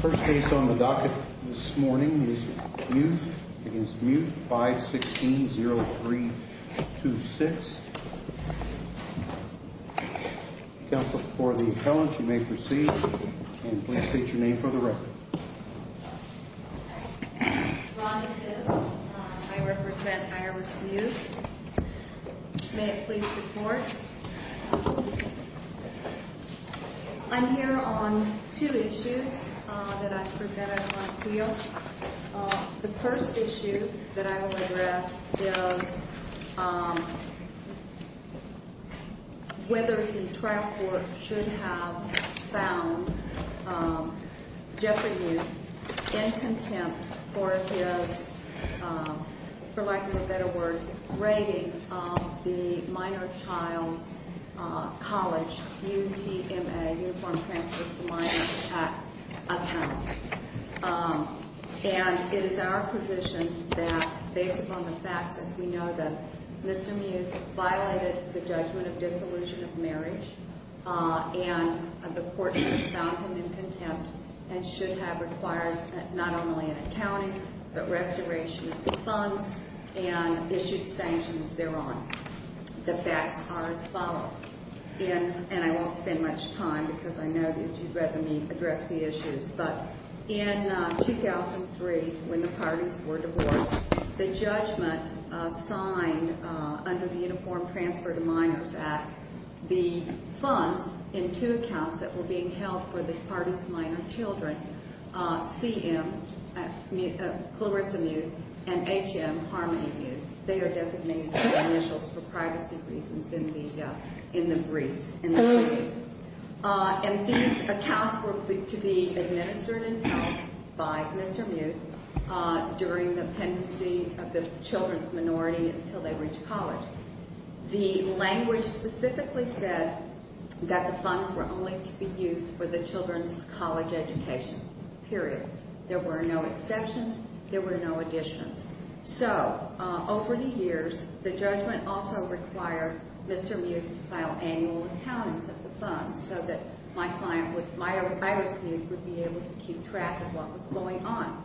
First case on the docket this morning is Mueth v. Mueth, 5-16-0326. Counsel for the appellant, you may proceed, and please state your name for the record. My name is Ron. I represent IRS Mueth. May I please report? I'm here on two issues that I presented on appeal. The first issue that I will address is whether the trial court should have found Jeffrey Mueth in contempt for his, for lack of a better word, of the minor child's college UTMA, Uniform Transfer to Minor Child Accounts. And it is our position that, based upon the facts, as we know, that Mr. Mueth violated the judgment of disillusion of marriage, and the court should have found him in contempt and should have required not only an accounting, but restoration of the funds and issued sanctions thereon. The facts are as follows, and I won't spend much time because I know that you'd rather me address the issues, but in 2003, when the parties were divorced, the judgment signed under the Uniform Transfer to Minors Act, the funds in two accounts that were being held for the parties' minor children, CM, Clarissa Mueth, and HM, Harmony Mueth, they are designated as initials for privacy reasons in the briefs, in the briefs. And these accounts were to be administered and held by Mr. Mueth during the pendency of the children's minority until they reach college. The language specifically said that the funds were only to be used for the children's college education, period. There were no exceptions. There were no additions. So, over the years, the judgment also required Mr. Mueth to file annual accountings of the funds so that my client, my ex-mute, would be able to keep track of what was going on.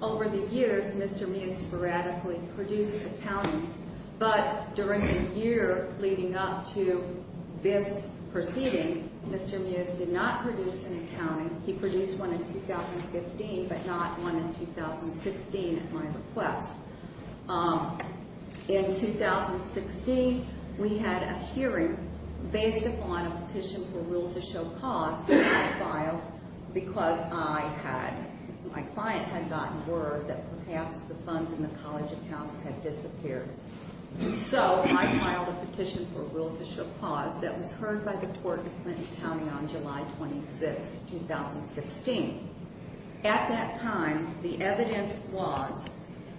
Over the years, Mr. Mueth sporadically produced accountings, but during the year leading up to this proceeding, Mr. Mueth did not produce an accounting. He produced one in 2015, but not one in 2016 at my request. In 2016, we had a hearing based upon a petition for a rule to show cause that I filed because I had, my client had gotten word that perhaps the funds in the college accounts had disappeared. So, I filed a petition for a rule to show cause that was heard by the court in Clinton County on July 26, 2016. At that time, the evidence was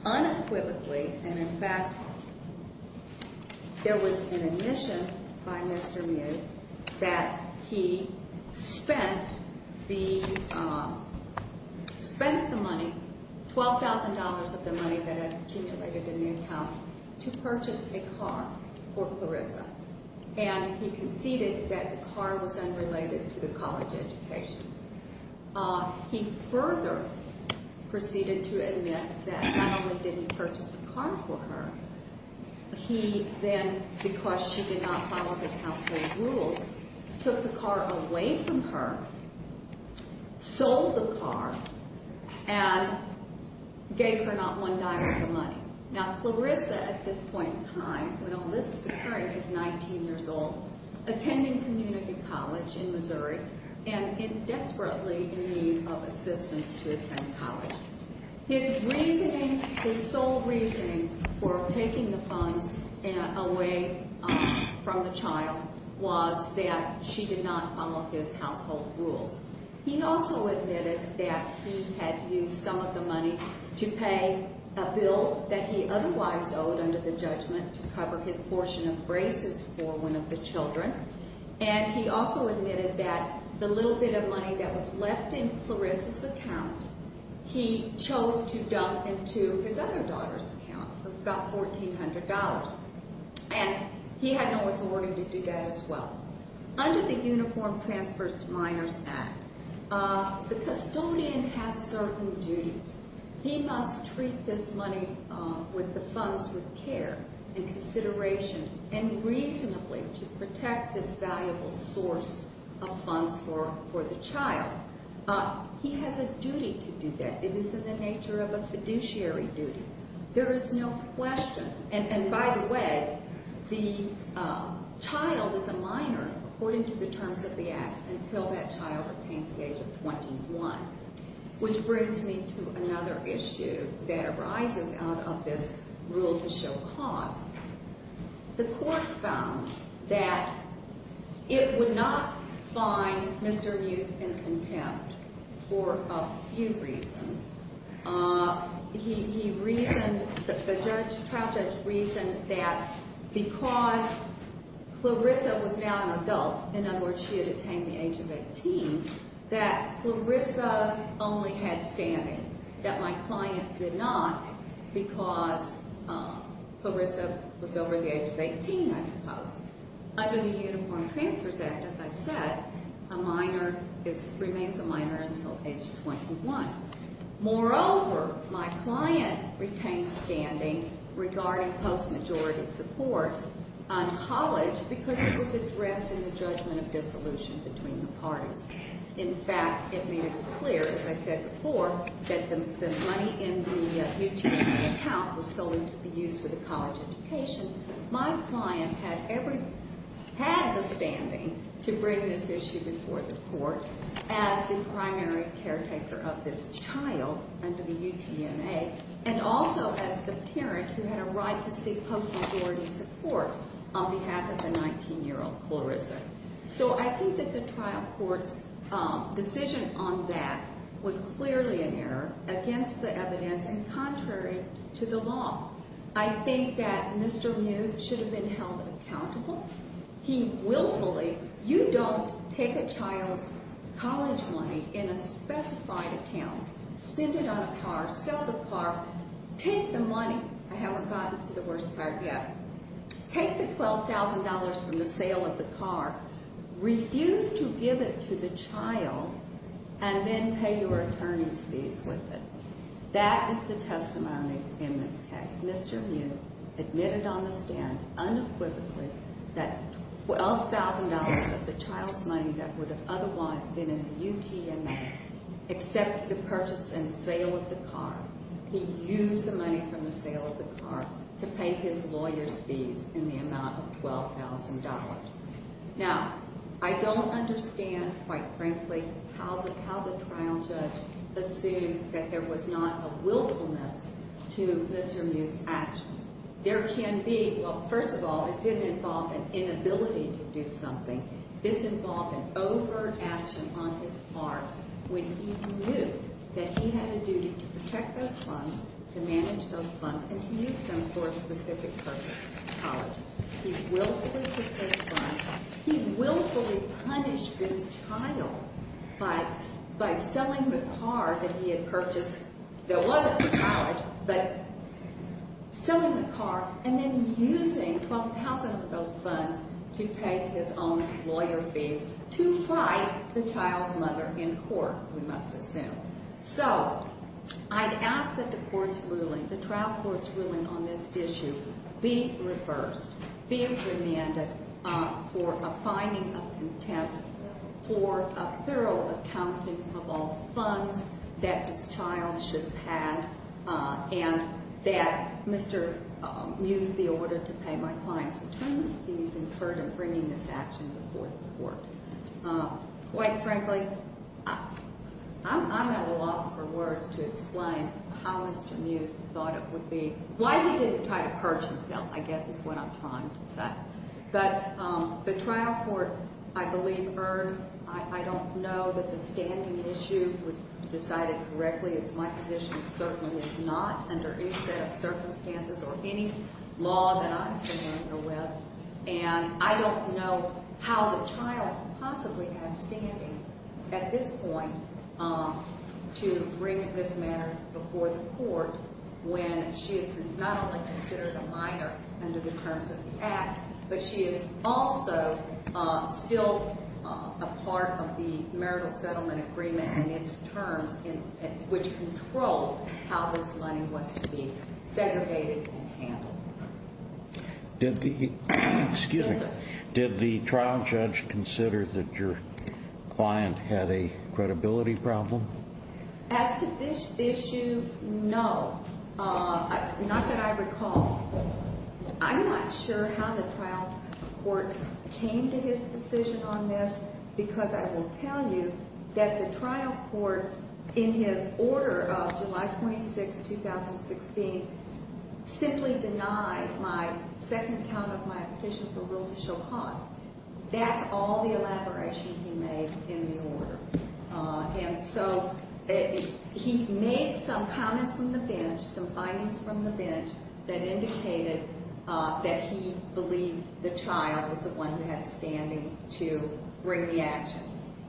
unequivocally, and in fact, there was an admission by Mr. Mueth that he spent the, spent the money, $12,000 of the money that had accumulated in the account to purchase a car for Clarissa, and he conceded that the car was unrelated to the college education. He further proceeded to admit that not only did he purchase a car for her, he then, because she did not follow the household rules, took the car away from her, sold the car, and gave her not one dime of the money. Now, Clarissa, at this point in time, when all this is occurring, is 19 years old, attending community college in Missouri, and is desperately in need of assistance to attend college. His reasoning, his sole reasoning for taking the funds away from the child was that she did not follow his household rules. He also admitted that he had used some of the money to pay a bill that he otherwise owed under the judgment to cover his portion of braces for one of the children, and he also admitted that the little bit of money that was left in Clarissa's account, he chose to dump into his other daughter's account. It was about $1,400, and he had no authority to do that as well. Under the Uniform Transfers to Minors Act, the custodian has certain duties. He must treat this money with the funds with care and consideration, and reasonably to protect this valuable source of funds for the child. He has a duty to do that. It is in the nature of a fiduciary duty. There is no question, and by the way, the child is a minor, according to the terms of the act, until that child attains the age of 21, which brings me to another issue that arises out of this rule to show cause. The court found that it would not find Mr. Youth in contempt for a few reasons. He reasoned, the trial judge reasoned that because Clarissa was now an adult, in other words, she had attained the age of 18, that Clarissa only had standing, that my client did not because Clarissa was over the age of 18, I suppose. Under the Uniform Transfers Act, as I said, a minor remains a minor until age 21. Moreover, my client retained standing regarding post-majority support on college because it was addressed in the judgment of dissolution between the parties. In fact, it made it clear, as I said before, that the money in the utility account was sold into the use for the college education. My client had the standing to bring this issue before the court as the primary caretaker of this child under the UTMA and also as the parent who had a right to seek post-majority support on behalf of the 19-year-old Clarissa. So I think that the trial court's decision on that was clearly an error against the evidence and contrary to the law. I think that Mr. Muth should have been held accountable. He willfully, you don't take a child's college money in a specified account, spend it on a car, sell the car, take the money, I haven't gotten to the worst part yet, take the $12,000 from the sale of the car, refuse to give it to the child, and then pay your attorney's fees with it. That is the testimony in this case. Mr. Muth admitted on the stand unequivocally that $12,000 of the child's money that would have otherwise been in the UTMA, except the purchase and sale of the car, he used the money from the sale of the car to pay his lawyer's fees in the amount of $12,000. Now, I don't understand, quite frankly, how the trial judge assumed that there was not a willfulness to Mr. Muth's actions. There can be, well, first of all, it didn't involve an inability to do something. This involved an over-action on his part when he knew that he had a duty to protect those funds, to manage those funds, and to use them for a specific purpose, colleges. He willfully took those funds. He willfully punished this child by selling the car that he had purchased, that wasn't for college, but selling the car, and then using $12,000 of those funds to pay his own lawyer fees to fight the child's mother in court, we must assume. So I'd ask that the court's ruling, the trial court's ruling on this issue, be reversed, be amended for a finding of contempt, for a thorough accounting of all funds that this child should have, and that Mr. Muth be ordered to pay my client's attorneys' fees in further bringing this action before the court. Quite frankly, I'm at a loss for words to explain how Mr. Muth thought it would be. Why he didn't try to purge himself, I guess, is what I'm trying to say. But the trial court, I believe, erred. I don't know that the standing issue was decided correctly. It's my position it certainly is not under any set of circumstances or any law that I'm familiar with. And I don't know how the child possibly has standing at this point to bring this matter before the court when she is not only considered a minor under the terms of the Act, but she is also still a part of the marital settlement agreement in its terms, which controlled how this money was to be segregated and handled. Did the trial judge consider that your client had a credibility problem? As to this issue, no. Not that I recall. I'm not sure how the trial court came to his decision on this, because I will tell you that the trial court, in his order of July 26, 2016, simply denied my second count of my petition for rule to show costs. That's all the elaboration he made in the order. And so he made some comments from the bench, some findings from the bench, that indicated that he believed the child was the one who had standing to bring the action.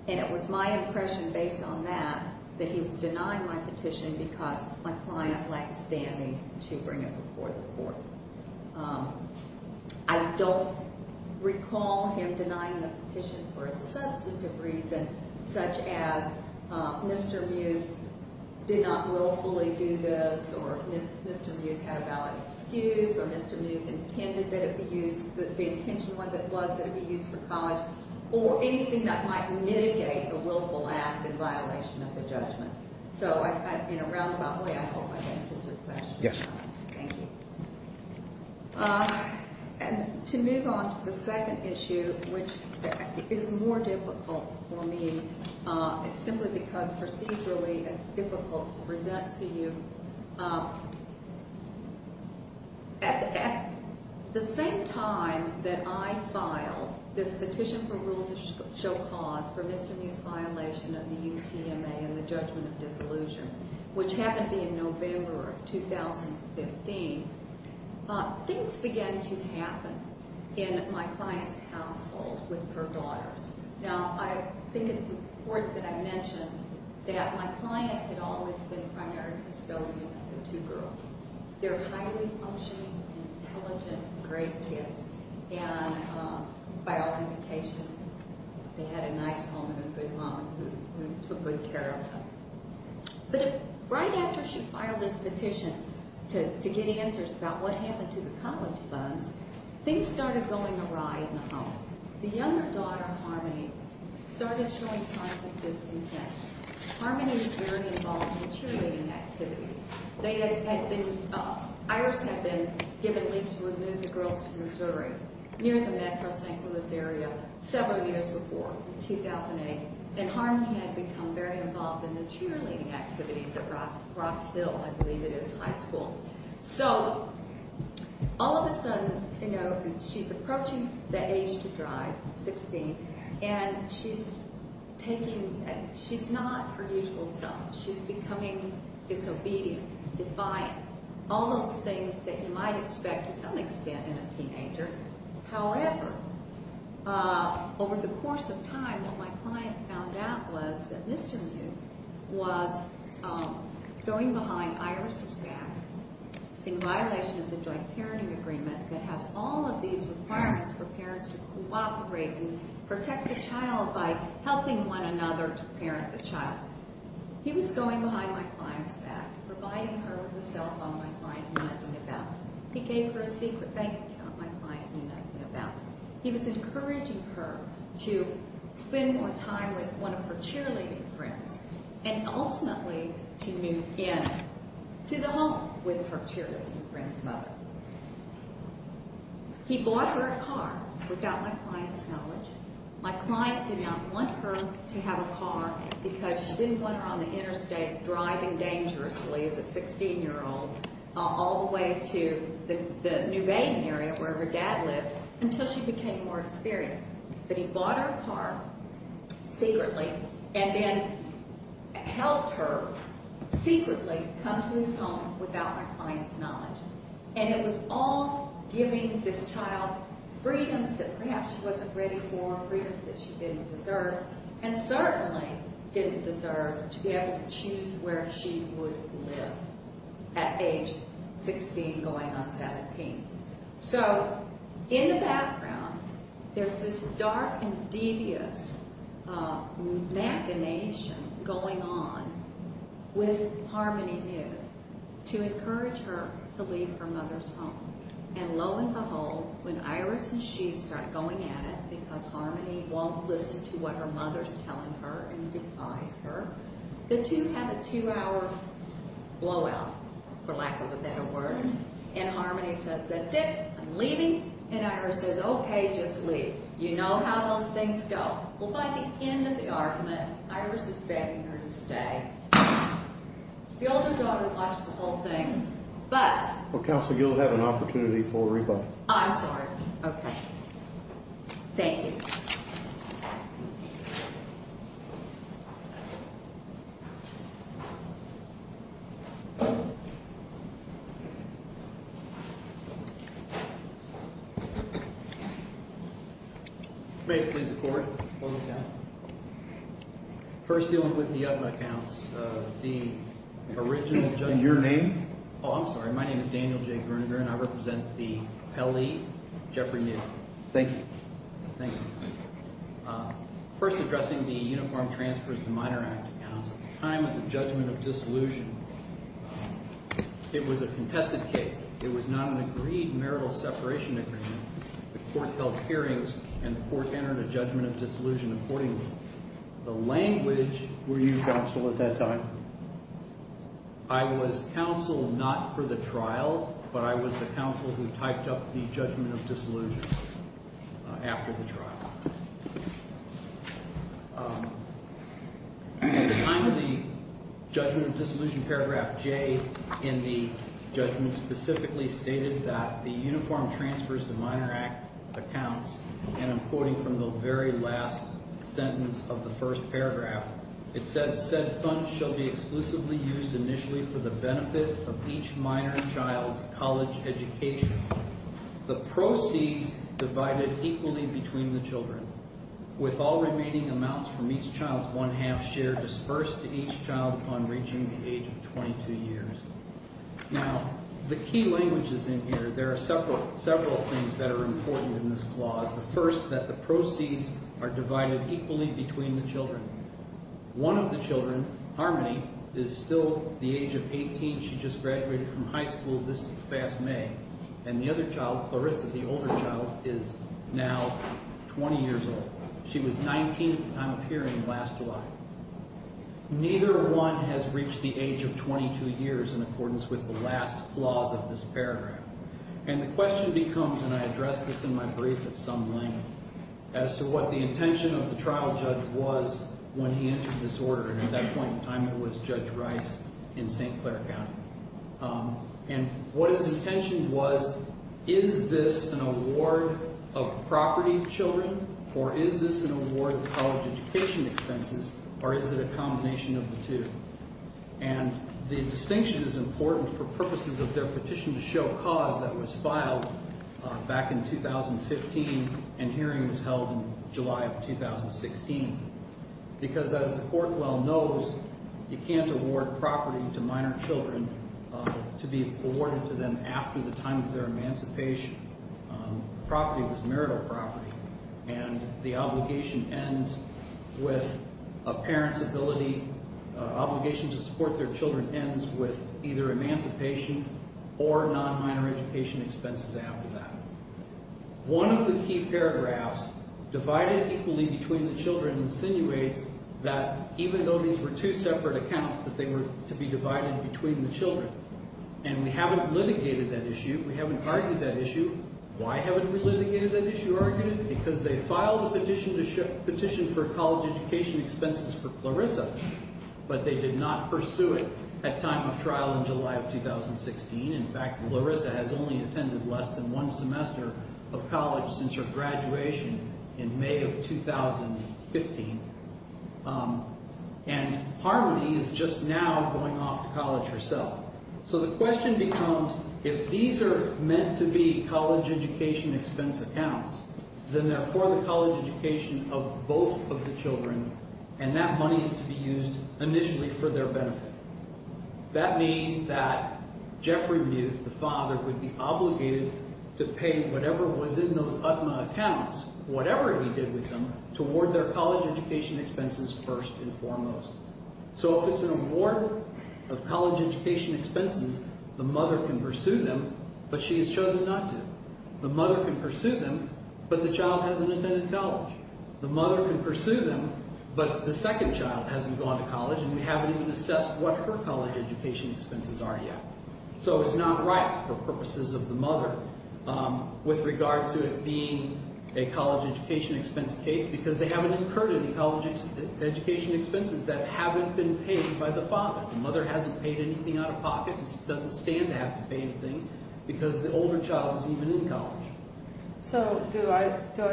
And it was my impression, based on that, that he was denying my petition because my client lacked standing to bring it before the court. I don't recall him denying the petition for a substantive reason, such as Mr. Mewes did not willfully do this, or Mr. Mewes had a valid excuse, or Mr. Mewes intended that it be used, the intention was that it be used for college, or anything that might mitigate a willful act in violation of the judgment. So, in a roundabout way, I hope I answered your question. Yes. Thank you. And to move on to the second issue, which is more difficult for me, simply because procedurally it's difficult to present to you. At the same time that I filed this petition for rule to show cause for Mr. Mewes' violation of the UTMA and the judgment of disillusion, which happened to be in November of 2015, things began to happen in my client's household with her daughters. Now, I think it's important that I mention that my client had always been a primary custodian of the two girls. They're highly functioning, intelligent, great kids. And by all indications, they had a nice home and a good mom who took good care of them. But right after she filed this petition to get answers about what happened to the college funds, things started going awry in the home. The younger daughter, Harmony, started showing signs of disintent. Harmony was very involved in cheerleading activities. Iris had been given leave to move the girls to Missouri, near the metro St. Louis area, several years before, in 2008. And Harmony had become very involved in the cheerleading activities at Rockville, I believe it is, high school. So, all of a sudden, she's approaching the age to drive, 16, and she's not her usual self. She's becoming disobedient, defiant, all those things that you might expect to some extent in a teenager. However, over the course of time, what my client found out was that Mr. Mute was going behind Iris' back in violation of the joint parenting agreement that has all of these requirements for parents to cooperate and protect the child by helping one another to parent the child. He was going behind my client's back, providing her with a cell phone. My client knew nothing about it. He gave her a secret bank account. My client knew nothing about it. He was encouraging her to spend more time with one of her cheerleading friends and, ultimately, to move in to the home with her cheerleading friend's mother. He bought her a car, without my client's knowledge. My client did not want her to have a car because she didn't want her on the interstate, driving dangerously as a 16-year-old, all the way to the New Baden area, where her dad lived, until she became more experienced. But he bought her a car, secretly, and then helped her, secretly, come to his home, without my client's knowledge. And it was all giving this child freedoms that, perhaps, she wasn't ready for, freedoms that she didn't deserve, and certainly didn't deserve, to be able to choose where she would live at age 16, going on 17. So, in the background, there's this dark and devious machination going on with Harmony New, to encourage her to leave her mother's home. And, lo and behold, when Iris and she start going at it, because Harmony won't listen to what her mother's telling her and defies her, the two have a two-hour blowout, for lack of a better word. And Harmony says, that's it, I'm leaving. And Iris says, okay, just leave. You know how those things go. Well, by the end of the argument, Iris is begging her to stay. The older daughter likes the whole thing, but... Well, Counsel, you'll have an opportunity for a rebuttal. I'm sorry. Okay. Thank you. May it please the Court. First dealing with the other accounts, the original judge... And your name? Oh, I'm sorry. My name is Daniel J. Gruninger, and I represent the Pele Jeffery New. Thank you. Thank you. First addressing the Uniform Transfers to Minor Act accounts. At the time of the judgment of dissolution, it was a contested case. It was not an agreed marital separation agreement. The Court held hearings, and the Court entered a judgment of dissolution accordingly. The language... Were you counsel at that time? I was counsel not for the trial, but I was the counsel who typed up the judgment of dissolution after the trial. At the time of the judgment of dissolution, paragraph J in the judgment specifically stated that the Uniform Transfers to Minor Act accounts, and I'm quoting from the very last sentence of the first paragraph, said funds shall be exclusively used initially for the benefit of each minor child's college education, the proceeds divided equally between the children, with all remaining amounts from each child's one-half share dispersed to each child upon reaching the age of 22 years. Now, the key language is in here. There are several things that are important in this clause. The first, that the proceeds are divided equally between the children. One of the children, Harmony, is still the age of 18. She just graduated from high school this past May. And the other child, Clarissa, the older child, is now 20 years old. She was 19 at the time of hearing last July. Neither one has reached the age of 22 years in accordance with the last clause of this paragraph. And the question becomes, and I addressed this in my brief at some length, as to what the intention of the trial judge was when he entered this order, and at that point in time it was Judge Rice in St. Clair County. And what his intention was, is this an award of property children, or is this an award of college education expenses, or is it a combination of the two? And the distinction is important for purposes of their petition to show cause that was filed back in 2015 and hearing was held in July of 2016. Because as the court well knows, you can't award property to minor children to be awarded to them after the time of their emancipation. Property was marital property. And the obligation to support their children ends with either emancipation or non-minor education expenses after that. One of the key paragraphs, divided equally between the children, insinuates that even though these were two separate accounts, that they were to be divided between the children. And we haven't litigated that issue, we haven't argued that issue. Why haven't we litigated that issue? Because they filed a petition for college education expenses for Clarissa, but they did not pursue it at time of trial in July of 2016. In fact, Clarissa has only attended less than one semester of college since her graduation in May of 2015. And Harmony is just now going off to college herself. So the question becomes, if these are meant to be college education expense accounts, then they're for the college education of both of the children, and that money is to be used initially for their benefit. That means that Jeffrey Muth, the father, would be obligated to pay whatever was in those UTMA accounts, whatever he did with them, to award their college education expenses first and foremost. So if it's an award of college education expenses, the mother can pursue them, but she has chosen not to. The mother can pursue them, but the child hasn't attended college. The mother can pursue them, but the second child hasn't gone to college, and we haven't even assessed what her college education expenses are yet. So it's not right for purposes of the mother with regard to it being a college education expense case, because they haven't incurred any college education expenses that haven't been paid by the father. The mother hasn't paid anything out of pocket and doesn't stand to have to pay anything because the older child isn't even in college. So do I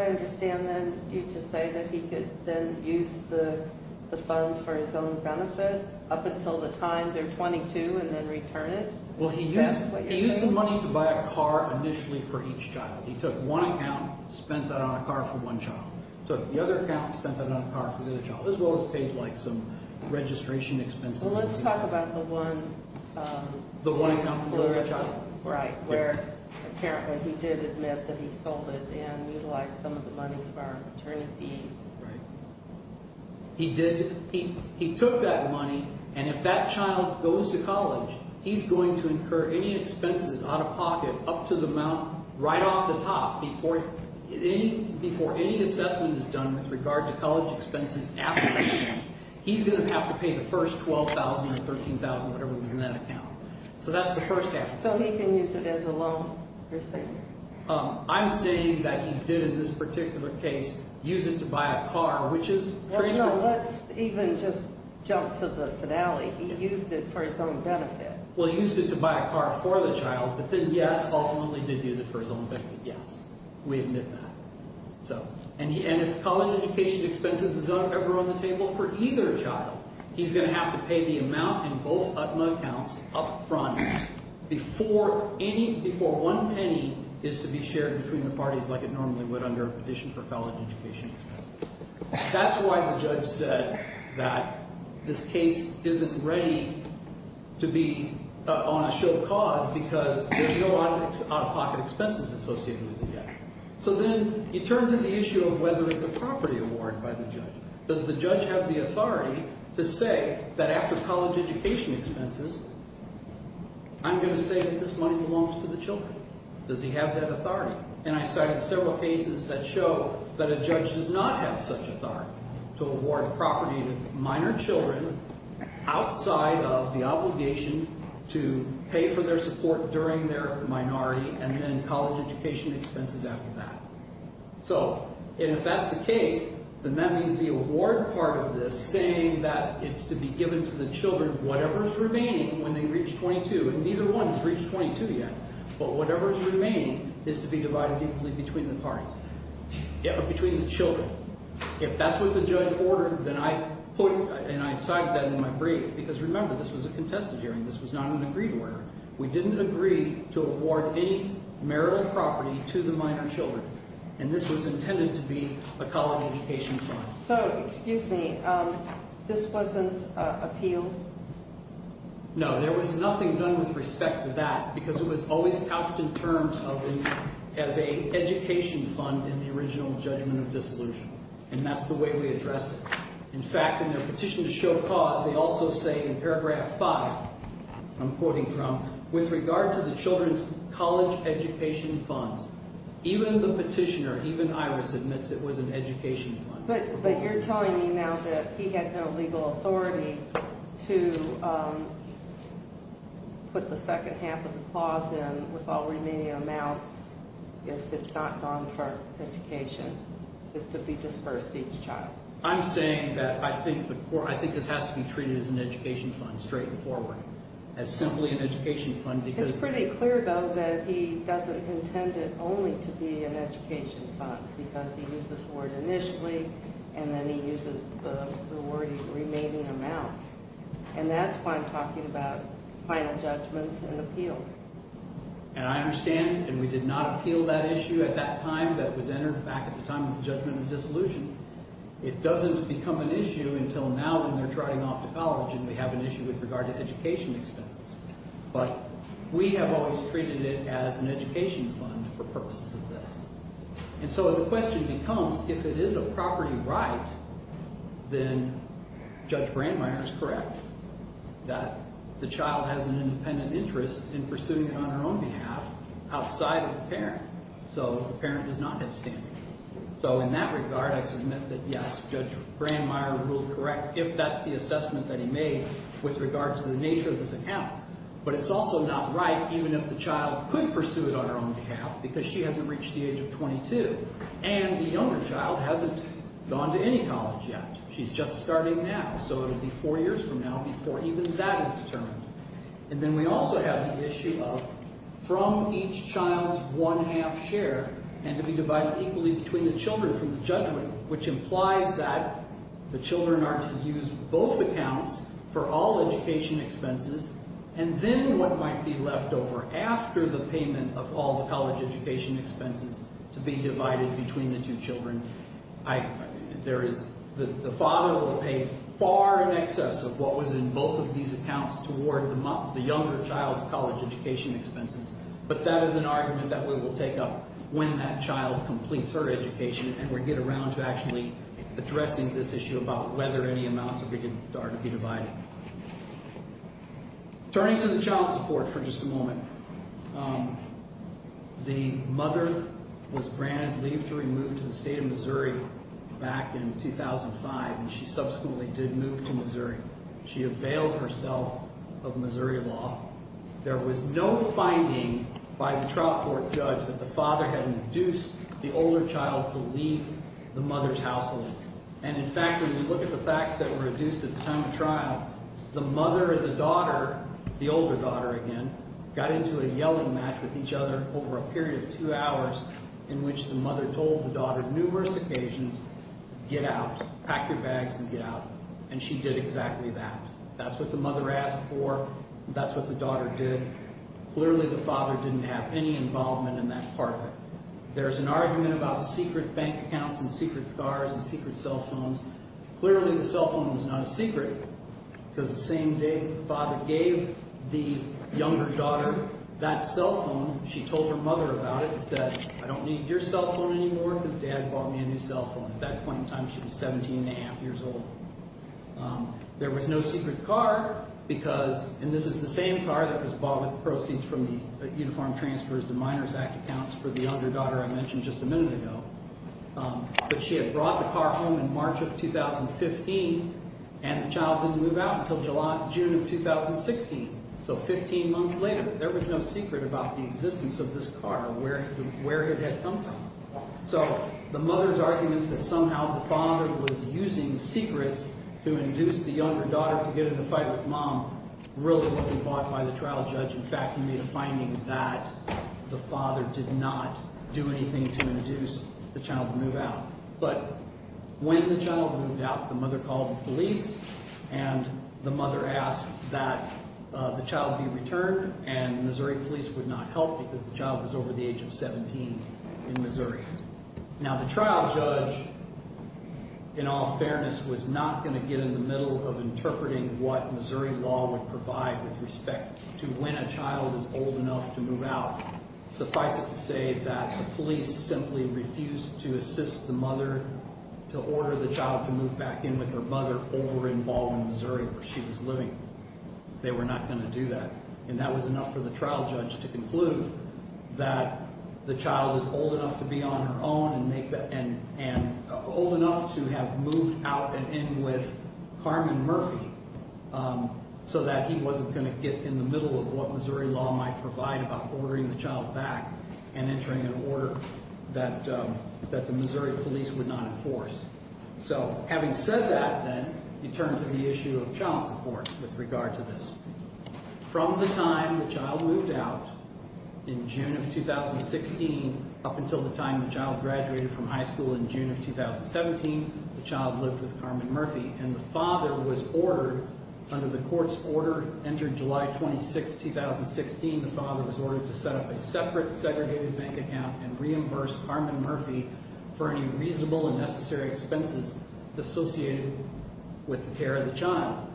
understand then you to say that he could then use the funds for his own benefit up until the time they're 22 and then return it? Well, he used the money to buy a car initially for each child. He took one account, spent that on a car for one child, took the other account, spent that on a car for the other child, as well as paid some registration expenses. Well, let's talk about the one account for the other child. Right, where apparently he did admit that he sold it and utilized some of the money for attorney fees. Right. He took that money, and if that child goes to college, he's going to incur any expenses out of pocket up to the amount right off the top before any assessment is done with regard to college expenses after that. He's going to have to pay the first $12,000 or $13,000, whatever was in that account. So that's the first step. So he can use it as a loan receipt? I'm saying that he did in this particular case use it to buy a car, which is pretty simple. No, let's even just jump to the finale. He used it for his own benefit. Well, he used it to buy a car for the child, but then, yes, ultimately did use it for his own benefit, yes. We admit that. And if college education expenses is ever on the table for either child, he's going to have to pay the amount in both UTMA accounts up front before one penny is to be shared between the parties like it normally would under a petition for college education expenses. That's why the judge said that this case isn't ready to be on a show of cause because there's no out-of-pocket expenses associated with it yet. So then he turns to the issue of whether it's a property award by the judge. Does the judge have the authority to say that after college education expenses, I'm going to say that this money belongs to the children? Does he have that authority? And I cited several cases that show that a judge does not have such authority to award property to minor children outside of the obligation to pay for their support during their minority and then college education expenses after that. So if that's the case, then that means the award part of this saying that it's to be given to the children whatever's remaining when they reach 22, and neither one has reached 22 yet, but whatever is remaining is to be divided equally between the parties, between the children. If that's what the judge ordered, then I put and I cited that in my brief because remember, this was a contested hearing. This was not an agreed order. We didn't agree to award any marital property to the minor children, and this was intended to be a college education fund. So, excuse me, this wasn't appealed? No, there was nothing done with respect to that because it was always out in terms of as an education fund in the original judgment of dissolution, and that's the way we addressed it. In fact, in their petition to show cause, they also say in paragraph 5, I'm quoting from, with regard to the children's college education funds, even the petitioner, even Iris, admits it was an education fund. But you're telling me now that he had no legal authority to put the second half of the clause in with all remaining amounts if it's not gone for education, is to be dispersed each child. I'm saying that I think this has to be treated as an education fund, straight and forward, as simply an education fund because It's pretty clear, though, that he doesn't intend it only to be an education fund because he uses the word initially, and then he uses the word remaining amounts. And that's why I'm talking about final judgments and appeals. And I understand, and we did not appeal that issue at that time that was entered back at the time of the judgment of dissolution. It doesn't become an issue until now when they're trotting off to college, and we have an issue with regard to education expenses. But we have always treated it as an education fund for purposes of this. And so the question becomes, if it is a property right, then Judge Brandmeier is correct that the child has an independent interest in pursuing it on her own behalf outside of the parent. So the parent does not have standing. So in that regard, I submit that, yes, Judge Brandmeier ruled correct if that's the assessment that he made with regard to the nature of this account. But it's also not right even if the child could pursue it on her own behalf because she hasn't reached the age of 22, and the younger child hasn't gone to any college yet. She's just starting now. So it would be four years from now before even that is determined. And then we also have the issue of from each child's one-half share and to be divided equally between the children from the judgment, which implies that the children are to use both accounts for all education expenses, and then what might be left over after the payment of all the college education expenses to be divided between the two children. The father will pay far in excess of what was in both of these accounts toward the younger child's college education expenses. But that is an argument that we will take up when that child completes her education and we get around to actually addressing this issue about whether any amounts are to be divided. Turning to the child support for just a moment, the mother was granted leave to remove to the state of Missouri back in 2005, and she subsequently did move to Missouri. She availed herself of Missouri law. There was no finding by the trial court judge that the father had induced the older child to leave the mother's household. And in fact, when you look at the facts that were reduced at the time of trial, the mother and the daughter, the older daughter again, got into a yelling match with each other over a period of two hours in which the mother told the daughter numerous occasions, get out, pack your bags, and get out, and she did exactly that. That's what the mother asked for. That's what the daughter did. Clearly, the father didn't have any involvement in that part. There's an argument about secret bank accounts and secret cars and secret cell phones. Clearly, the cell phone was not a secret because the same day the father gave the younger daughter that cell phone, she told her mother about it and said, I don't need your cell phone anymore because Dad bought me a new cell phone. At that point in time, she was 17 1⁄2 years old. There was no secret car because, and this is the same car that was bought with proceeds from the Uniform Transfers to Minors Act accounts for the younger daughter I mentioned just a minute ago, but she had brought the car home in March of 2015 and the child didn't move out until June of 2016. So 15 months later, there was no secret about the existence of this car or where it had come from. So the mother's arguments that somehow the father was using secrets to induce the younger daughter to get in a fight with Mom really wasn't bought by the trial judge. In fact, he made a finding that the father did not do anything to induce the child to move out. But when the child moved out, the mother called the police and the mother asked that the child be returned and Missouri police would not help because the child was over the age of 17 in Missouri. Now the trial judge, in all fairness, was not going to get in the middle of interpreting what Missouri law would provide with respect to when a child is old enough to move out. Suffice it to say that the police simply refused to assist the mother to order the child to move back in with her mother over in Baldwin, Missouri where she was living. They were not going to do that. And that was enough for the trial judge to conclude that the child was old enough to be on her own and old enough to have moved out and in with Carmen Murphy so that he wasn't going to get in the middle of what Missouri law might provide about ordering the child back and entering an order that the Missouri police would not enforce. So having said that then, you turn to the issue of child support with regard to this. From the time the child moved out in June of 2016 up until the time the child graduated from high school in June of 2017, the child lived with Carmen Murphy and the father was ordered, under the court's order entered July 26, 2016, the father was ordered to set up a separate segregated bank account and reimburse Carmen Murphy for any reasonable and necessary expenses associated with the care of the child.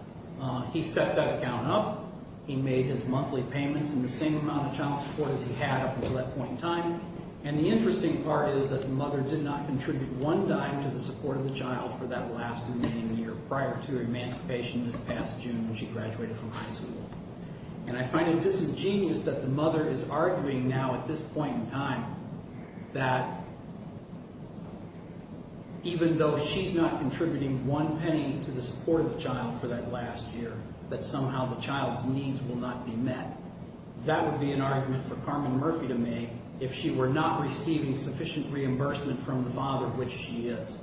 He set that account up. He made his monthly payments in the same amount of child support as he had up until that point in time. And the interesting part is that the mother did not contribute one dime to the support of the child for that last remaining year prior to her emancipation this past June when she graduated from high school. And I find it disingenuous that the mother is arguing now at this point in time that even though she's not contributing one penny to the support of the child for that last year, that somehow the child's needs will not be met. That would be an argument for Carmen Murphy to make if she were not receiving sufficient reimbursement from the father, which she is.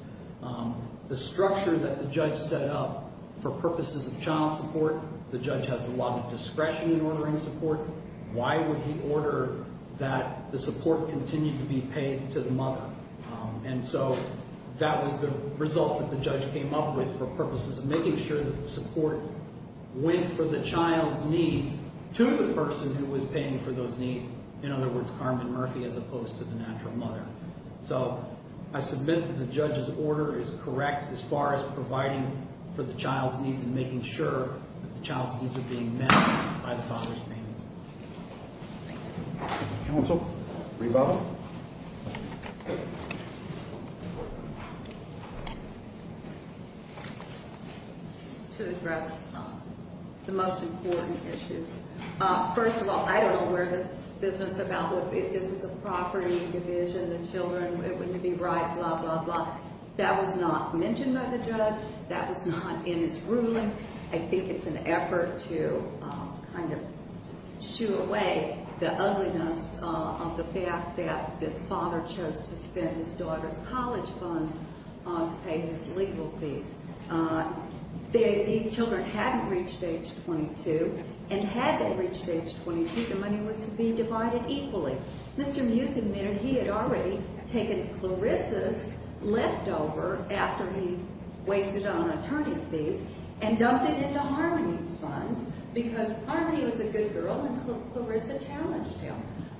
The structure that the judge set up for purposes of child support, the judge has a lot of discretion in ordering support. Why would he order that the support continue to be paid to the mother? And so that was the result that the judge came up with for purposes of making sure that the support went for the child's needs to the person who was paying for those needs. In other words, Carmen Murphy as opposed to the natural mother. So I submit that the judge's order is correct as far as providing for the child's needs and making sure that the child's needs are being met by the father's payments. Thank you. Counsel? Reba? Just to address the most important issues. First of all, I don't know where this business about this is a property division, the children, it wouldn't be right, blah, blah, blah. That was not mentioned by the judge. That was not in his ruling. I think it's an effort to kind of shoo away the ugliness of the fact that this father chose to spend his daughter's college funds to pay his legal fees. These children hadn't reached age 22. And had they reached age 22, the money was to be divided equally. Mr. Muth admitted he had already taken Clarissa's leftover after he wasted it on attorney's fees and dumped it into Harmony's funds because Harmony was a good girl and Clarissa challenged him.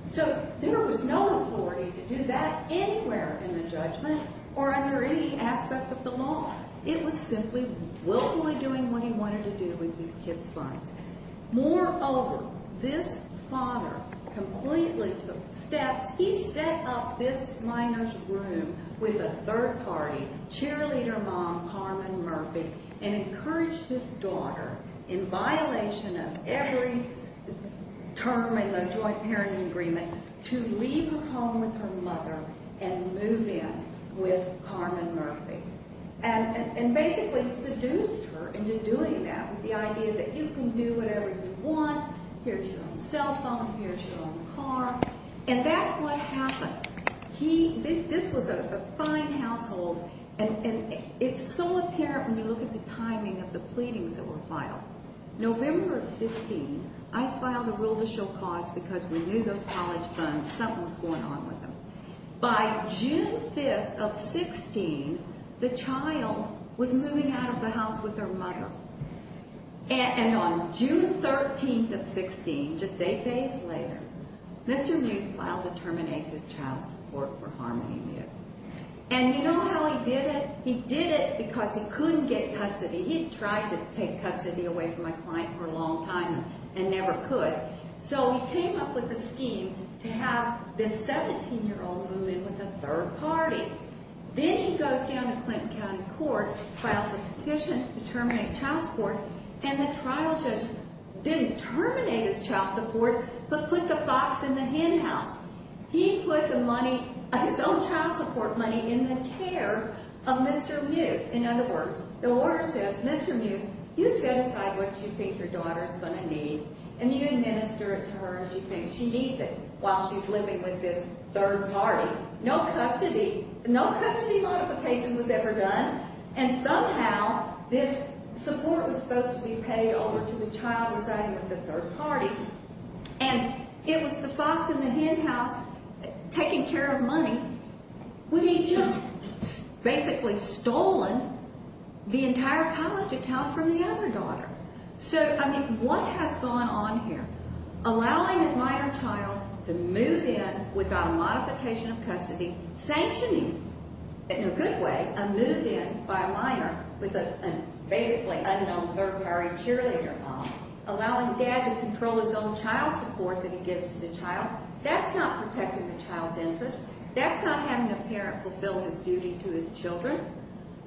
So there was no authority to do that anywhere in the judgment or under any aspect of the law. It was simply willfully doing what he wanted to do with these kids' funds. Moreover, this father completely took steps. He set up this minor's room with a third-party cheerleader mom, Carmen Murphy, and encouraged his daughter, in violation of every term in the joint parenting agreement, to leave her home with her mother and move in with Carmen Murphy. And basically seduced her into doing that with the idea that you can do whatever you want. Here's your own cell phone. Here's your own car. And that's what happened. This was a fine household. And it's so apparent when you look at the timing of the pleadings that were filed. November 15, I filed a rule to show cause because we knew those college funds. Something was going on with them. By June 5 of 16, the child was moving out of the house with her mother. And on June 13 of 16, just eight days later, Mr. Muth filed to terminate his child's support for Harmony Muth. And you know how he did it? He did it because he couldn't get custody. He tried to take custody away from my client for a long time and never could. So he came up with a scheme to have this 17-year-old move in with a third party. Then he goes down to Clinton County Court, files a petition to terminate child support, and the trial judge didn't terminate his child support but put the box in the hen house. He put the money, his own child support money, in the care of Mr. Muth. In other words, the lawyer says, Mr. Muth, you set aside what you think your daughter's going to need, and you administer it to her as you think she needs it while she's living with this third party. No custody, no custody modification was ever done, and somehow this support was supposed to be paid over to the child residing with the third party. And it was the box in the hen house taking care of money when he'd just basically stolen the entire college account from the other daughter. So, I mean, what has gone on here? Allowing a minor child to move in without a modification of custody, sanctioning, in a good way, a move in by a minor with a basically unknown third party cheerleader mom, allowing Dad to control his own child support that he gives to the child, that's not protecting the child's interests. That's not having a parent fulfill his duty to his children.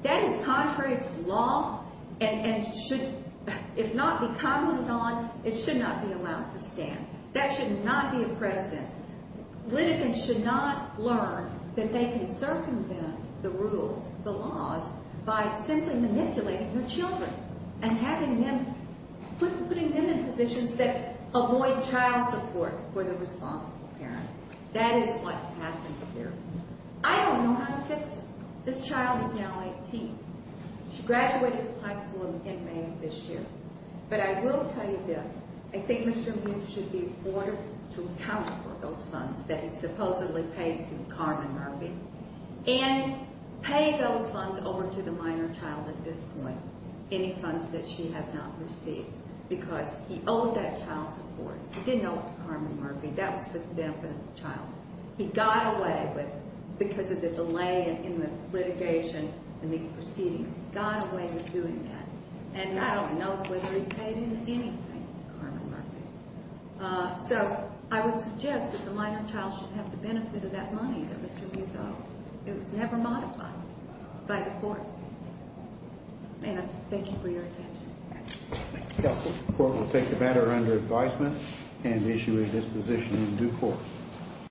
That is contrary to law and should, if not be commented on, it should not be allowed to stand. That should not be a precedence. Litigants should not learn that they can circumvent the rules, the laws, by simply manipulating their children and having them, putting them in positions that avoid child support for the responsible parent. That is what happened here. I don't know how to fix it. This child is now 18. She graduated from high school in May of this year. But I will tell you this. I think Mr. Amuse should be ordered to account for those funds that he supposedly paid to Carmen Murphy and pay those funds over to the minor child at this point, any funds that she has not received, because he owed that child support. He didn't owe it to Carmen Murphy. That was for the benefit of the child. He got away with, because of the delay in the litigation and these proceedings, he got away with doing that. And now he knows whether he paid him anything to Carmen Murphy. So I would suggest that the minor child should have the benefit of that money that Mr. Amuse owed. It was never modified by the court. Anna, thank you for your attention. Thank you, counsel. The court will take the matter under advisement and issue a disposition in due course.